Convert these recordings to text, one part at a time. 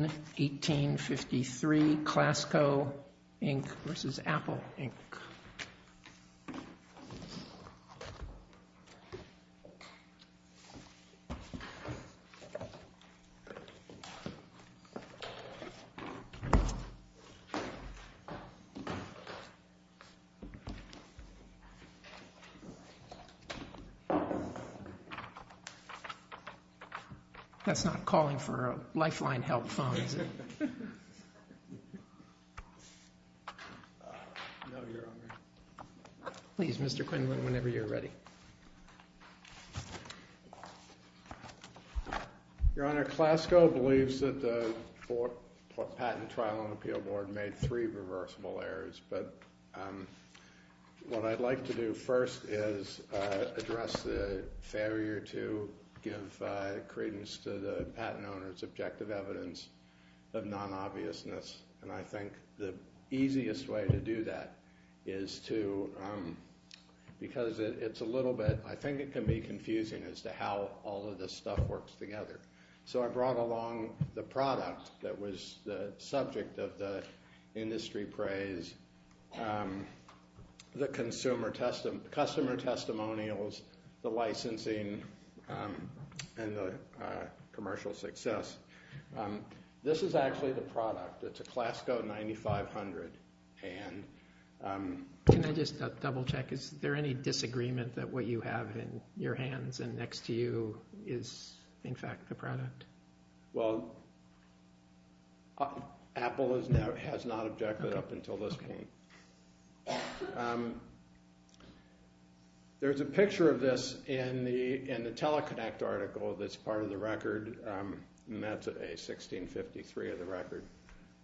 1853 ClassCo, Inc. v. Apple, Inc. That's not calling for a lifeline help phone, is it? Please, Mr. Quinlan, whenever you're ready. Your Honor, ClassCo believes that the patent trial on the Appeal Board made three reversible errors. But what I'd like to do first is address the failure to give credence to the patent owner's objective evidence of non-obviousness. And I think the easiest way to do that is to, because it's a little bit, I think it can be confusing as to how all of this stuff works together. So I brought along the product that was the subject of the industry praise, the customer testimonials, the licensing, and the commercial success. This is actually the product. It's a ClassCo 9500. Can I just double check? Is there any disagreement that what you have in your hands and next to you is in fact the product? Well, Apple has not objected up until this point. There's a picture of this in the Teleconnect article that's part of the record. And that's a 1653 of the record.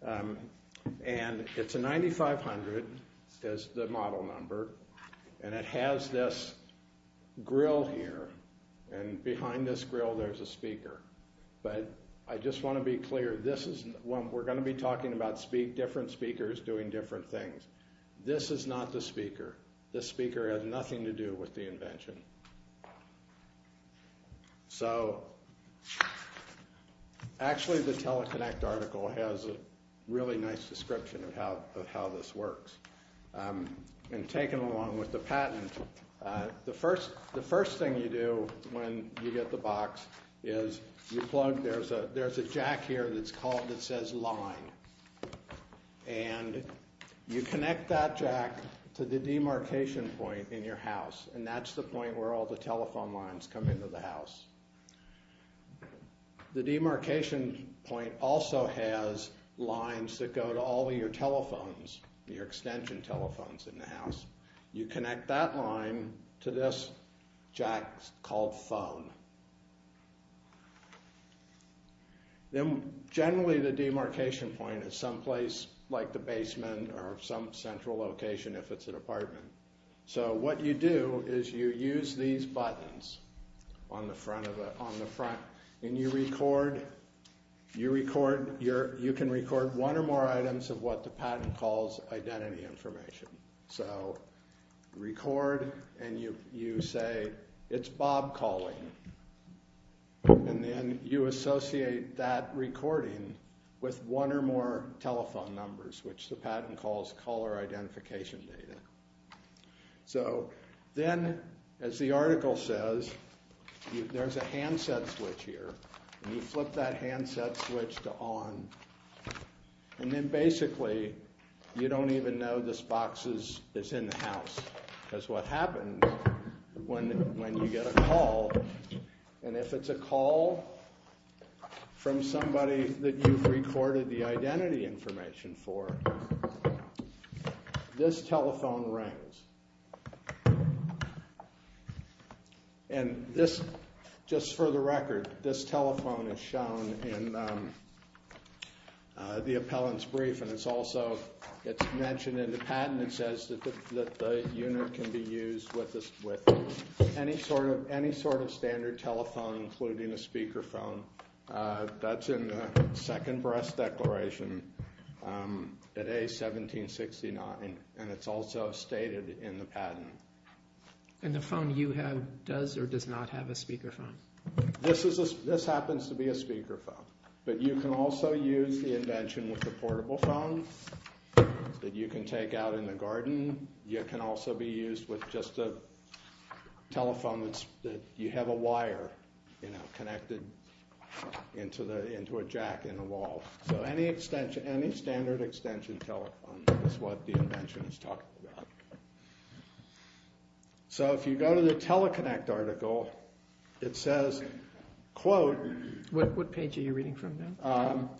And it's a 9500, says the model number. And it has this grill here. And behind this grill there's a speaker. But I just want to be clear. We're going to be talking about different speakers doing different things. This is not the speaker. This speaker has nothing to do with the invention. So actually the Teleconnect article has a really nice description of how this works. And taken along with the patent, the first thing you do when you get the box is you plug There's a jack here that says line. And you connect that jack to the demarcation point in your house. And that's the point where all the telephone lines come into the house. The demarcation point also has lines that go to all of your telephones, your extension telephones in the house. You connect that line to this jack called phone. Then generally the demarcation point is someplace like the basement or some central location if it's an apartment. So what you do is you use these buttons on the front. And you record. You can record one or more items of what the patent calls identity information. So record and you say it's Bob calling. And then you associate that recording with one or more telephone numbers, which the patent calls caller identification data. So then as the article says, there's a handset switch here. And you flip that handset switch to on. And then basically you don't even know this box is in the house. That's what happens when you get a call. And if it's a call from somebody that you've recorded the identity information for, this telephone rings. And this, just for the record, this telephone is shown in the appellant's brief. And it's also mentioned in the patent. It says that the unit can be used with any sort of standard telephone, including a speakerphone. That's in the second breast declaration at A1769. And it's also stated in the patent. And the phone you have does or does not have a speakerphone. This happens to be a speakerphone. But you can also use the invention with the portable phone that you can take out in the garden. You can also be used with just a telephone that you have a wire connected into a jack in the wall. So any standard extension telephone is what the invention is talking about. So if you go to the Teleconnect article, it says, quote, What page are you reading from now?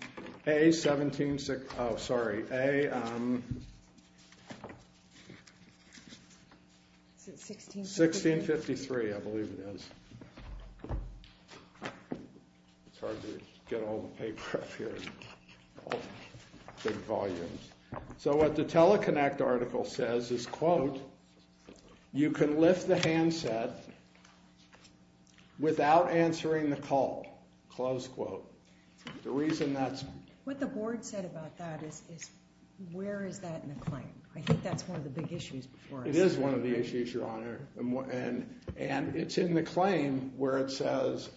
1653, I believe it is. It's hard to get all the paper up here. Big volumes. So what the Teleconnect article says is, quote, You can lift the handset without answering the call, close quote. The reason that's- What the board said about that is, where is that in the claim? I think that's one of the big issues before us. It is one of the issues, Your Honor. And it's in the claim where it says,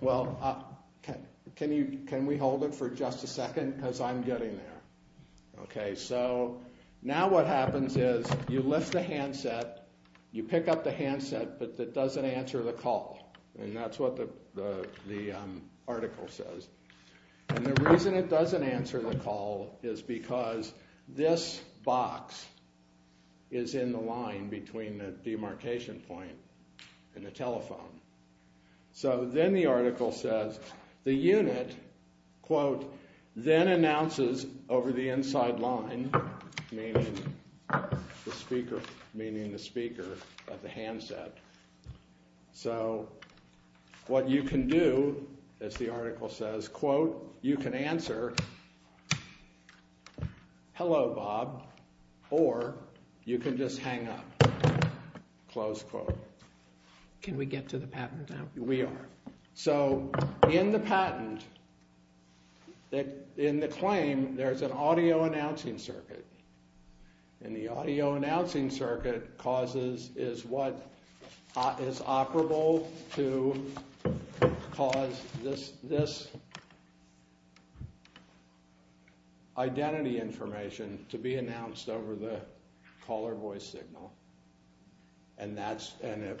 well, can we hold it for just a second? Because I'm getting there. Okay, so now what happens is you lift the handset. You pick up the handset, but it doesn't answer the call. And that's what the article says. And the reason it doesn't answer the call is because this box is in the line between the demarcation point and the telephone. So then the article says, the unit, quote, Then announces over the inside line, meaning the speaker of the handset. So what you can do, as the article says, quote, You can answer, hello, Bob, or you can just hang up, close quote. Can we get to the patent now? We are. So in the patent, in the claim, there's an audio announcing circuit. And the audio announcing circuit is what is operable to cause this identity information to be announced over the caller voice signal. And that's the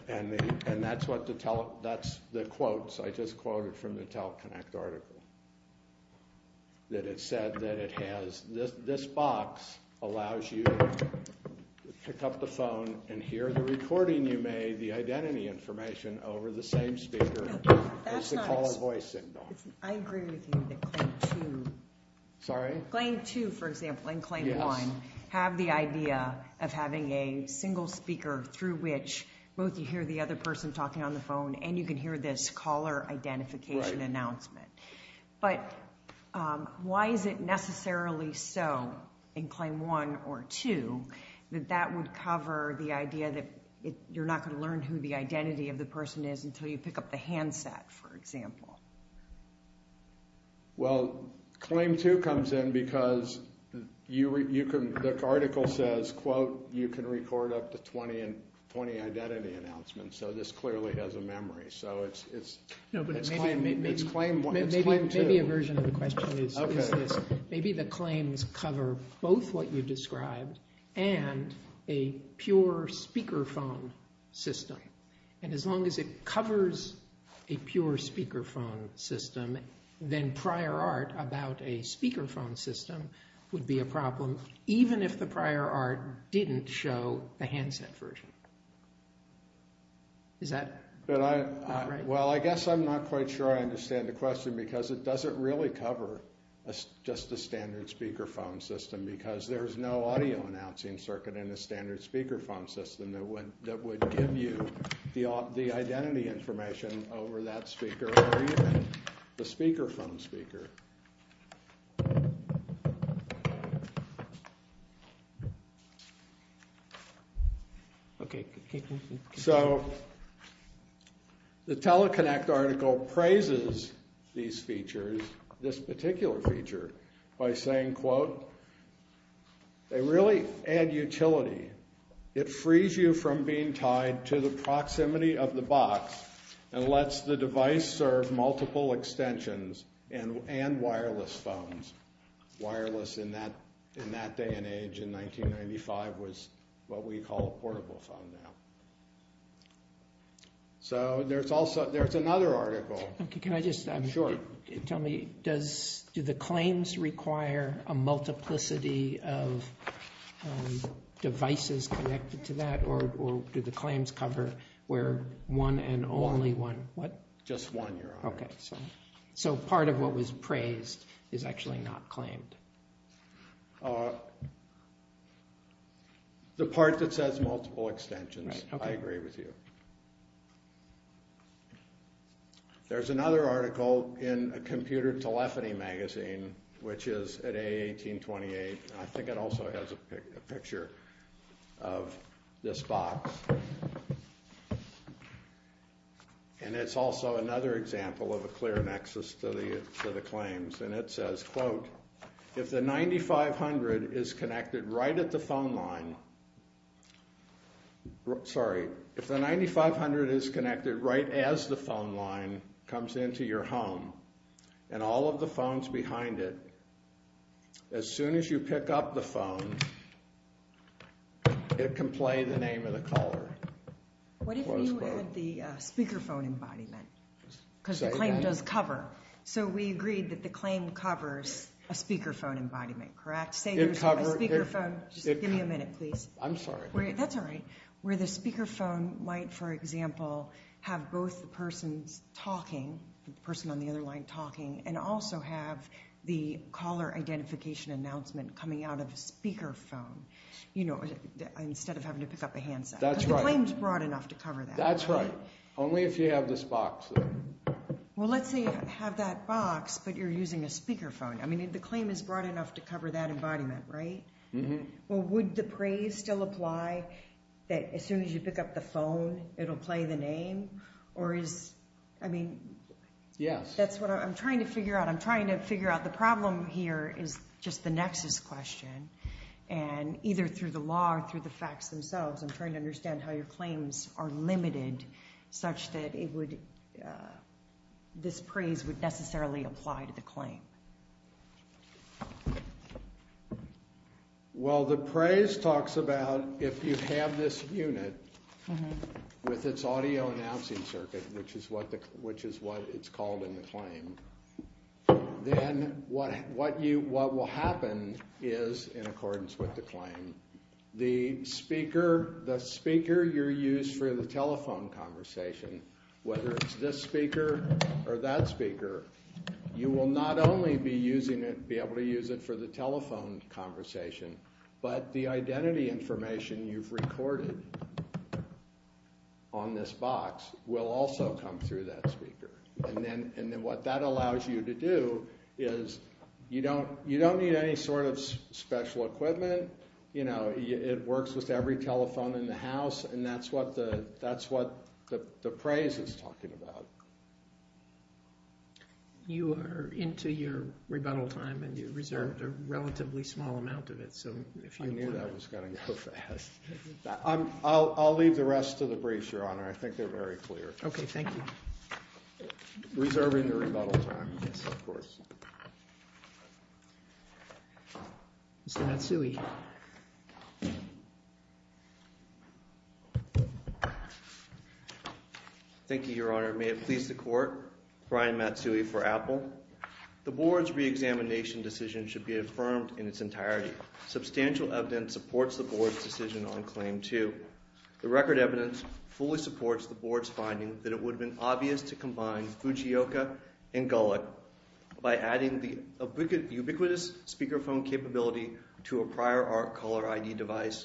quotes I just quoted from the TelConnect article. That it said that it has, this box allows you to pick up the phone and hear the recording you made, the identity information, over the same speaker as the caller voice signal. I agree with you that claim two. Sorry? Claim two, for example, and claim one have the idea of having a single speaker through which both you hear the other person talking on the phone and you can hear this caller identification announcement. But why is it necessarily so in claim one or two that that would cover the idea that you're not going to learn who the identity of the person is until you pick up the handset, for example? Well, claim two comes in because you can, the article says, quote, you can record up to 20 identity announcements. So this clearly has a memory. No, but it's claim one. It's claim two. Maybe a version of the question is this. Maybe the claims cover both what you described and a pure speakerphone system. And as long as it covers a pure speakerphone system, then prior art about a speakerphone system would be a problem, even if the prior art didn't show the handset version. Is that right? Well, I guess I'm not quite sure I understand the question because it doesn't really cover just the standard speakerphone system because there's no audio announcing circuit in the standard speakerphone system that would give you the identity information over that speaker or even the speakerphone speaker. Okay. So the Teleconnect article praises these features, this particular feature by saying, quote, they really add utility. It frees you from being tied to the proximity of the box and lets the device serve multiple extensions and wireless phones. Wireless in that day and age in 1995 was what we call a portable phone now. So there's another article. Can I just tell me, do the claims require a multiplicity of devices connected to that or do the claims cover where one and only one? Just one, Your Honor. Okay. So part of what was praised is actually not claimed. The part that says multiple extensions, I agree with you. There's another article in a computer telephony magazine, which is at 1828. I think it also has a picture of this box. And it's also another example of a clear nexus to the claims. And it says, quote, if the 9500 is connected right at the phone line, sorry, if the 9500 is connected right as the phone line comes into your home and all of the phones behind it, as soon as you pick up the phone, it can play the name of the caller. What if you add the speakerphone embodiment? Because the claim does cover. So we agreed that the claim covers a speakerphone embodiment, correct? Say there's a speakerphone. Just give me a minute, please. I'm sorry. That's all right. Where the speakerphone might, for example, have both the person talking, the person on the other line talking, and also have the caller identification announcement coming out of a speakerphone, you know, instead of having to pick up a handset. That's right. Because the claim's broad enough to cover that. That's right. Only if you have this box, though. Well, let's say you have that box, but you're using a speakerphone. I mean, the claim is broad enough to cover that embodiment, right? Mm-hmm. Well, would the praise still apply that as soon as you pick up the phone, it'll play the name? Or is, I mean, that's what I'm trying to figure out. I'm trying to figure out the problem here is just the nexus question. And either through the law or through the facts themselves, I'm trying to understand how your claims are limited such that this praise would necessarily apply to the claim. Well, the praise talks about if you have this unit with its audio announcing circuit, which is what it's called in the claim, then what will happen is, in accordance with the claim, the speaker you're using for the telephone conversation, whether it's this speaker or that speaker, you will not only be able to use it for the telephone conversation, but the identity information you've recorded on this box will also come through that speaker. And then what that allows you to do is you don't need any sort of special equipment. It works with every telephone in the house. And that's what the praise is talking about. You are into your rebuttal time. And you reserved a relatively small amount of it. I knew that was going to go fast. I'll leave the rest of the briefs, Your Honor. I think they're very clear. Reserving the rebuttal time, of course. Mr. Matsui. Thank you, Your Honor. May it please the Court. Brian Matsui for Apple. The Board's reexamination decision should be affirmed in its entirety. Substantial evidence supports the Board's decision on Claim 2. The record evidence fully supports the Board's finding that it would have been obvious to combine Fujioka and Gullick by adding the ubiquitous speakerphone capability to a prior ARC caller ID device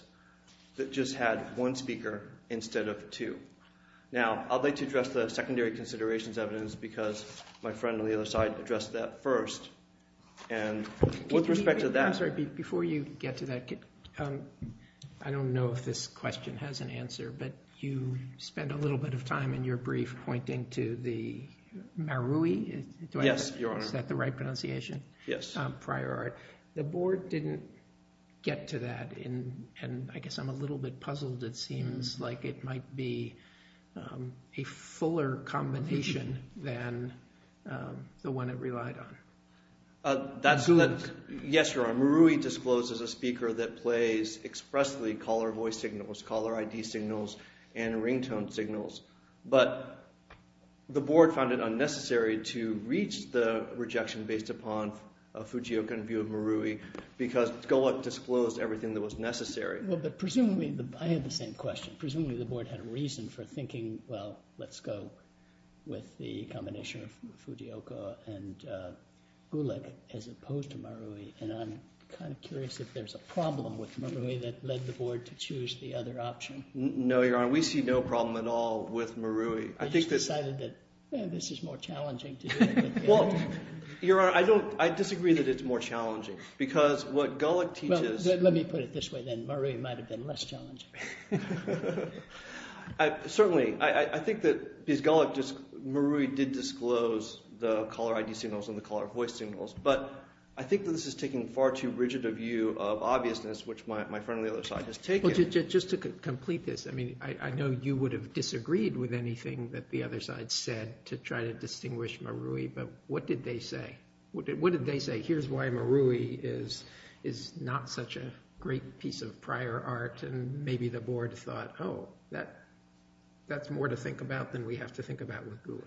that just had one speaker instead of two. Now, I'd like to address the secondary considerations evidence because my friend on the other side addressed that first. And with respect to that. I'm sorry. Before you get to that, I don't know if this question has an answer, but you spent a little bit of time in your brief pointing to the Marui? Yes, Your Honor. Is that the right pronunciation? Yes. Prior ARC. The Board didn't get to that, and I guess I'm a little bit puzzled. It seems like it might be a fuller combination than the one it relied on. Gullick. Yes, Your Honor. Marui discloses a speaker that plays expressly caller voice signals, caller ID signals, and ringtone signals. But the Board found it unnecessary to reach the rejection based upon Fujioka and view of Marui because Gullick disclosed everything that was necessary. Well, but presumably – I had the same question. Presumably the Board had a reason for thinking, well, let's go with the combination of Fujioka and Gullick as opposed to Marui. And I'm kind of curious if there's a problem with Marui that led the Board to choose the other option. No, Your Honor. We see no problem at all with Marui. I just decided that this is more challenging to do. Well, Your Honor, I don't – I disagree that it's more challenging because what Gullick teaches – Let me put it this way then. Marui might have been less challenging. Certainly. I think that because Gullick – Marui did disclose the caller ID signals and the caller voice signals. But I think that this is taking far too rigid a view of obviousness, which my friend on the other side has taken. Well, just to complete this, I mean I know you would have disagreed with anything that the other side said to try to distinguish Marui. But what did they say? Here's why Marui is not such a great piece of prior art. And maybe the Board thought, oh, that's more to think about than we have to think about with Gullick.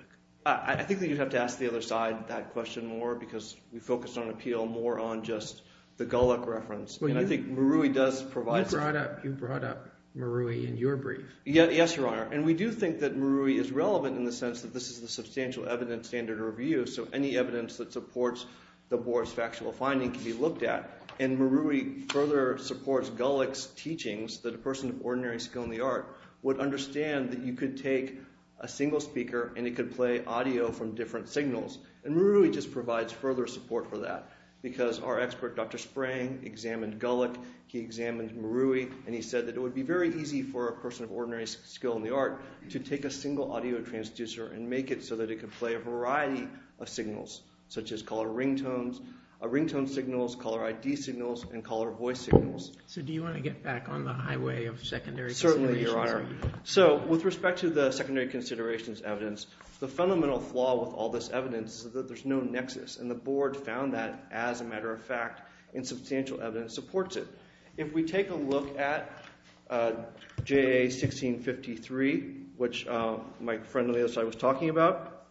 I think that you'd have to ask the other side that question more because we focused on appeal more on just the Gullick reference. And I think Marui does provide – You brought up Marui in your brief. Yes, Your Honor. And we do think that Marui is relevant in the sense that this is the substantial evidence standard review, so any evidence that supports the Board's factual finding can be looked at. And Marui further supports Gullick's teachings that a person of ordinary skill in the art would understand that you could take a single speaker and it could play audio from different signals. And Marui just provides further support for that because our expert, Dr. Sprang, examined Gullick. He examined Marui, and he said that it would be very easy for a person of ordinary skill in the art to take a single audio transducer and make it so that it could play a variety of signals such as color ringtones, ringtone signals, color ID signals, and color voice signals. So do you want to get back on the highway of secondary considerations? Certainly, Your Honor. So with respect to the secondary considerations evidence, the fundamental flaw with all this evidence is that there's no nexus, and the Board found that, as a matter of fact, in substantial evidence supports it. If we take a look at JA 1653, which my friend Elias and I was talking about,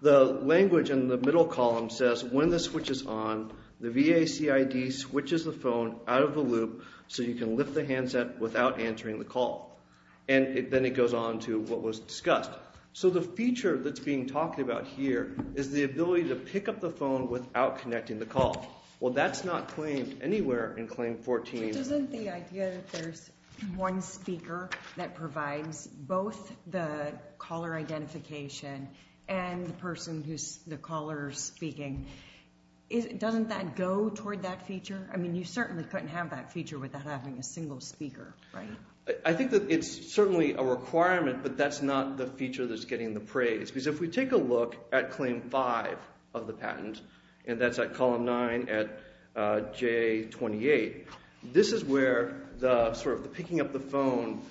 the language in the middle column says, when the switch is on, the VACID switches the phone out of the loop so you can lift the handset without answering the call. And then it goes on to what was discussed. So the feature that's being talked about here is the ability to pick up the phone without connecting the call. Well, that's not claimed anywhere in Claim 14. Doesn't the idea that there's one speaker that provides both the caller identification and the person who's the caller speaking, doesn't that go toward that feature? I mean, you certainly couldn't have that feature without having a single speaker, right? I think that it's certainly a requirement, but that's not the feature that's getting the praise. Because if we take a look at Claim 5 of the patent, and that's at column 9 at JA 28, this is where the sort of picking up the phone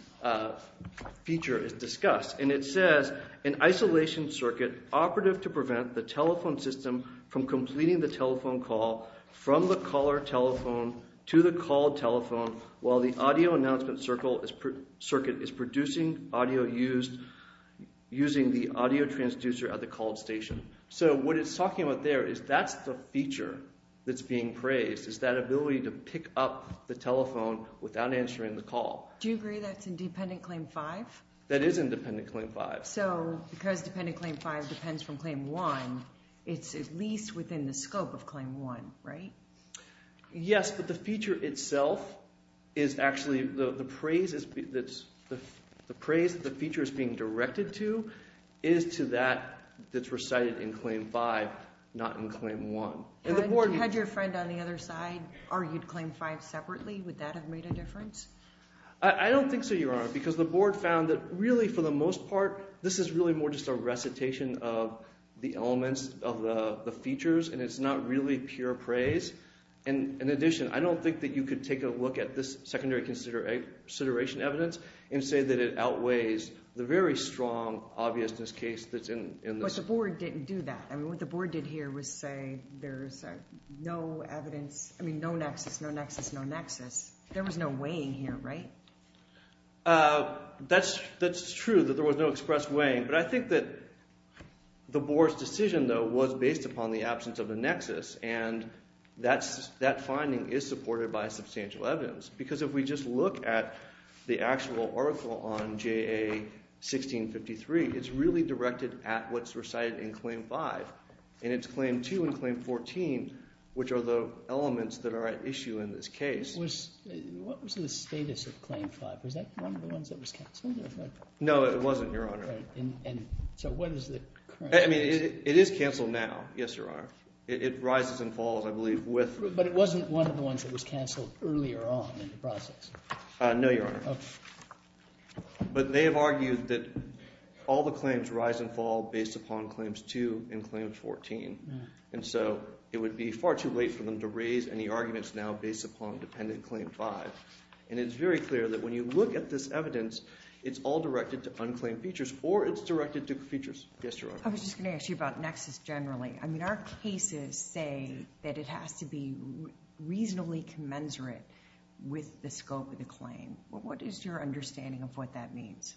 feature is discussed. And it says, an isolation circuit operative to prevent the telephone system from completing the telephone call from the caller telephone to the called telephone while the audio announcement circuit is producing audio using the audio transducer at the called station. So what it's talking about there is that's the feature that's being praised, is that ability to pick up the telephone without answering the call. Do you agree that's in Dependent Claim 5? That is in Dependent Claim 5. So because Dependent Claim 5 depends from Claim 1, it's at least within the scope of Claim 1, right? Yes, but the feature itself is actually – the praise that the feature is being directed to is to that that's recited in Claim 5, not in Claim 1. Had your friend on the other side argued Claim 5 separately? Would that have made a difference? I don't think so, Your Honor, because the board found that really for the most part this is really more just a recitation of the elements of the features, and it's not really pure praise. And in addition, I don't think that you could take a look at this secondary consideration evidence and say that it outweighs the very strong obviousness case that's in this. Because the board didn't do that. I mean what the board did here was say there's no evidence – I mean no nexus, no nexus, no nexus. There was no weighing here, right? That's true that there was no express weighing, but I think that the board's decision, though, was based upon the absence of the nexus, and that finding is supported by substantial evidence. Because if we just look at the actual article on JA 1653, it's really directed at what's recited in Claim 5, and it's Claim 2 and Claim 14 which are the elements that are at issue in this case. What was the status of Claim 5? Was that one of the ones that was cancelled? No, it wasn't, Your Honor. And so what is the current status? I mean it is cancelled now, yes, Your Honor. It rises and falls, I believe, with – But it wasn't one of the ones that was cancelled earlier on in the process? No, Your Honor. But they have argued that all the claims rise and fall based upon Claims 2 and Claim 14. And so it would be far too late for them to raise any arguments now based upon Dependent Claim 5. And it's very clear that when you look at this evidence, it's all directed to unclaimed features or it's directed to features. Yes, Your Honor. I was just going to ask you about nexus generally. I mean our cases say that it has to be reasonably commensurate with the scope of the claim. What is your understanding of what that means?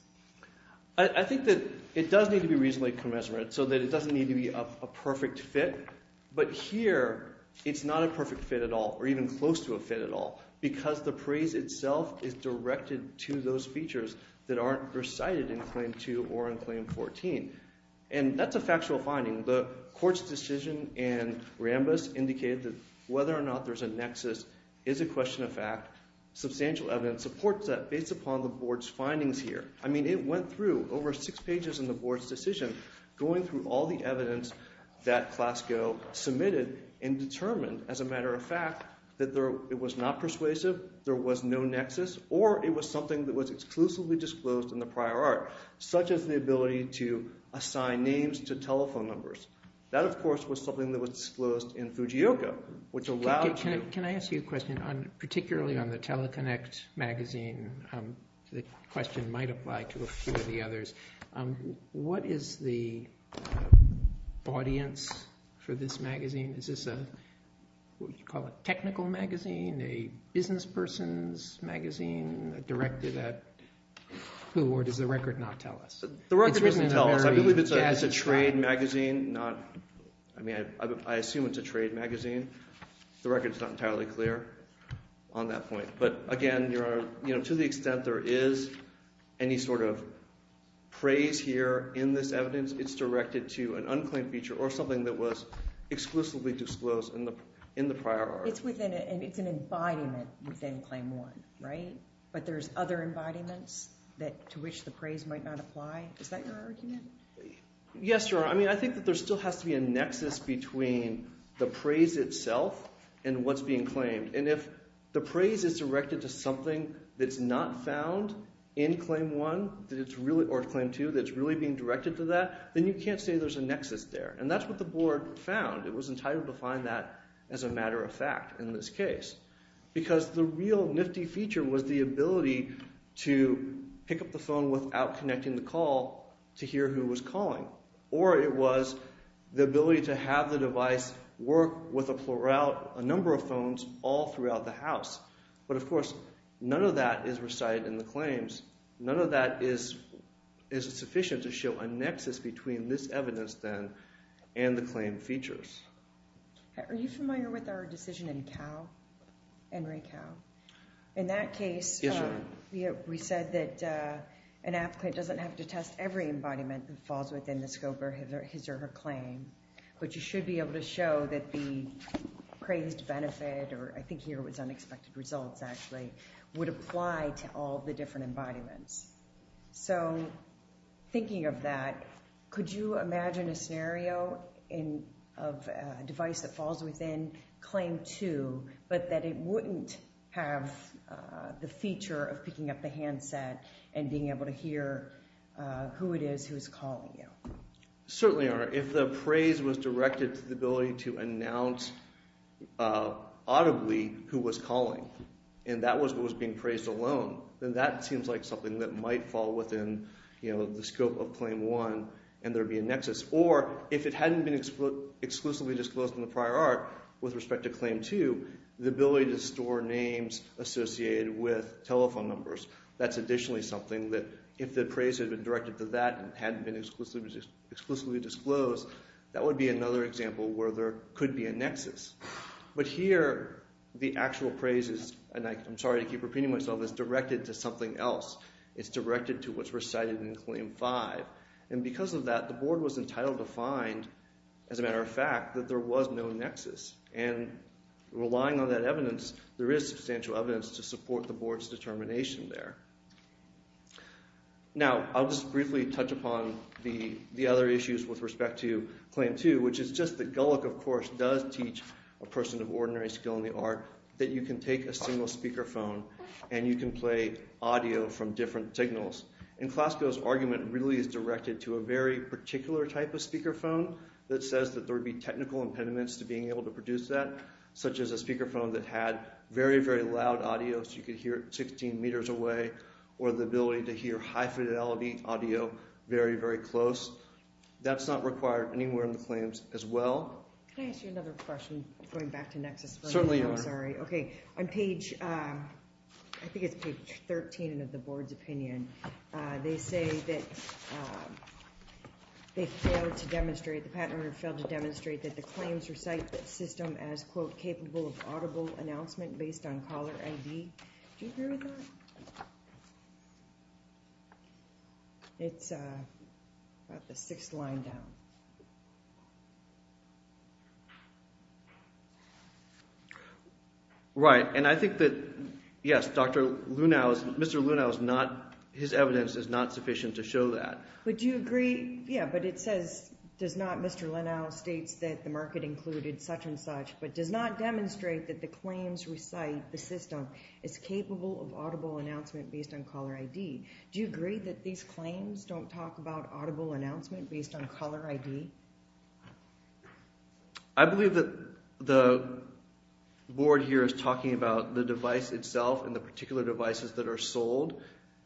I think that it does need to be reasonably commensurate so that it doesn't need to be a perfect fit. But here it's not a perfect fit at all or even close to a fit at all because the praise itself is directed to those features that aren't recited in Claim 2 or in Claim 14. And that's a factual finding. The court's decision in Rambis indicated that whether or not there's a nexus is a question of fact. Substantial evidence supports that based upon the board's findings here. I mean it went through over six pages in the board's decision going through all the evidence that Class Go submitted and determined, as a matter of fact, that it was not persuasive. There was no nexus or it was something that was exclusively disclosed in the prior art, such as the ability to assign names to telephone numbers. That, of course, was something that was disclosed in Fujioka, which allowed – Can I ask you a question particularly on the Teleconnect magazine? The question might apply to a few of the others. What is the audience for this magazine? Is this what you call a technical magazine, a businessperson's magazine directed at who, or does the record not tell us? The record doesn't tell us. I believe it's a trade magazine, not – I mean I assume it's a trade magazine. The record is not entirely clear on that point. But again, to the extent there is any sort of praise here in this evidence, it's directed to an unclaimed feature or something that was exclusively disclosed in the prior art. It's within – it's an embodiment within Claim 1, right? But there's other embodiments to which the praise might not apply. Is that your argument? Yes, Your Honor. I mean I think that there still has to be a nexus between the praise itself and what's being claimed. And if the praise is directed to something that's not found in Claim 1 or Claim 2 that's really being directed to that, then you can't say there's a nexus there. And that's what the board found. It was entitled to find that as a matter of fact in this case because the real nifty feature was the ability to pick up the phone without connecting the call to hear who was calling. Or it was the ability to have the device work with a number of phones all throughout the house. But, of course, none of that is recited in the claims. None of that is sufficient to show a nexus between this evidence then and the claim features. Are you familiar with our decision in Cowell, Henry Cowell? In that case – Yes, Your Honor. We said that an applicant doesn't have to test every embodiment that falls within the scope of his or her claim. But you should be able to show that the praised benefit, or I think here it was unexpected results actually, would apply to all the different embodiments. So thinking of that, could you imagine a scenario of a device that falls within Claim 2 but that it wouldn't have the feature of picking up the handset and being able to hear who it is who is calling you? Or if the praise was directed to the ability to announce audibly who was calling and that was what was being praised alone, then that seems like something that might fall within the scope of Claim 1 and there would be a nexus. Or if it hadn't been exclusively disclosed in the prior art with respect to Claim 2, the ability to store names associated with telephone numbers, that's additionally something that if the praise had been directed to that and hadn't been exclusively disclosed, that would be another example where there could be a nexus. But here the actual praise is – and I'm sorry to keep repeating myself – is directed to something else. It's directed to what's recited in Claim 5. And because of that, the board was entitled to find, as a matter of fact, that there was no nexus. And relying on that evidence, there is substantial evidence to support the board's determination there. Now, I'll just briefly touch upon the other issues with respect to Claim 2, which is just that Gullick, of course, does teach a person of ordinary skill in the art that you can take a single speakerphone and you can play audio from different signals. And CLASCO's argument really is directed to a very particular type of speakerphone that says that there would be technical impediments to being able to produce that, such as a speakerphone that had very, very loud audio so you could hear it 16 meters away or the ability to hear high-fidelity audio very, very close. That's not required anywhere in the claims as well. Can I ask you another question going back to nexus? Certainly. I'm sorry. Okay. On page, I think it's page 13 of the board's opinion, they say that they failed to demonstrate, the patent order failed to demonstrate that the claims recite that system as, quote, capable of audible announcement based on caller ID. Do you agree with that? It's about the sixth line down. Right. And I think that, yes, Dr. Lunau's, Mr. Lunau's not, his evidence is not sufficient to show that. But do you agree, yeah, but it says, does not Mr. Lunau states that the market included such and such, but does not demonstrate that the claims recite the system is capable of audible announcement based on caller ID. Do you agree that these claims don't talk about audible announcement based on caller ID? I believe that the board here is talking about the device itself and the particular devices that are sold,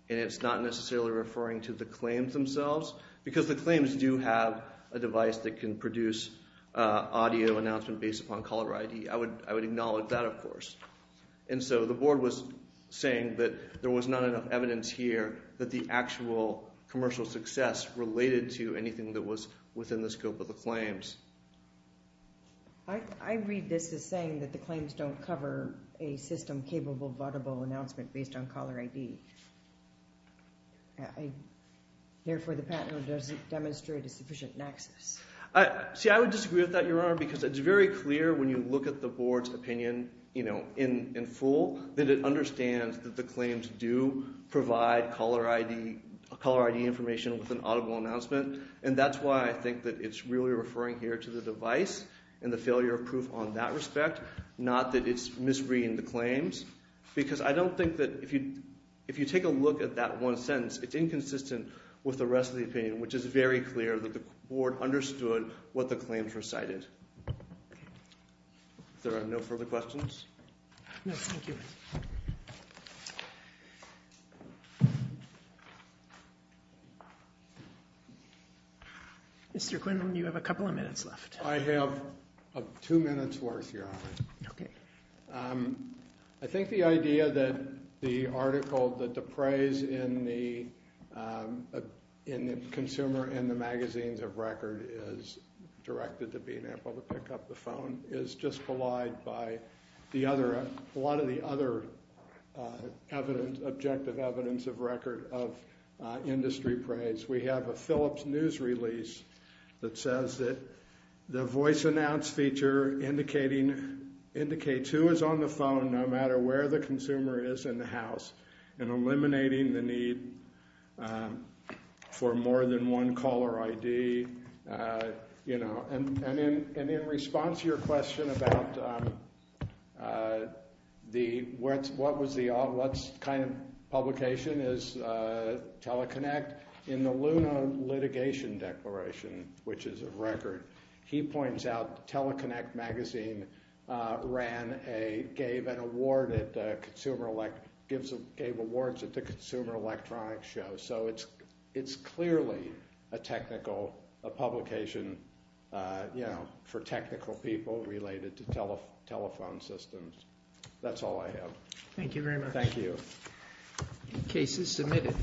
and it's not necessarily referring to the claims themselves, because the claims do have a device that can produce audio announcement based upon caller ID. I would acknowledge that, of course. And so the board was saying that there was not enough evidence here that the actual commercial success related to anything that was within the scope of the claims. I read this as saying that the claims don't cover a system capable of audible announcement based on caller ID. Therefore, the patent doesn't demonstrate a sufficient nexus. See, I would disagree with that, Your Honor, because it's very clear when you look at the board's opinion, you know, in full, that it understands that the claims do provide caller ID, caller ID information with an audible announcement. And that's why I think that it's really referring here to the device and the failure of proof on that respect, not that it's misreading the claims. Because I don't think that if you take a look at that one sentence, it's inconsistent with the rest of the opinion, which is very clear that the board understood what the claims recited. If there are no further questions. No, thank you. Mr. Quinlan, you have a couple of minutes left. I have two minutes worth, Your Honor. Okay. I think the idea that the article, that the praise in the Consumer and the Magazines of Record is directed to Bean Apple to pick up the phone, is just belied by a lot of the other objective evidence of record of industry praise. We have a Phillips News release that says that the voice announce feature indicates who is on the phone, no matter where the consumer is in the house, and eliminating the need for more than one caller ID. And in response to your question about what kind of publication is Teleconnect, in the Luna litigation declaration, which is of record, he points out Teleconnect Magazine gave awards at the Consumer Electronics Show. So it's clearly a publication for technical people related to telephone systems. That's all I have. Thank you very much. Thank you. The case is submitted.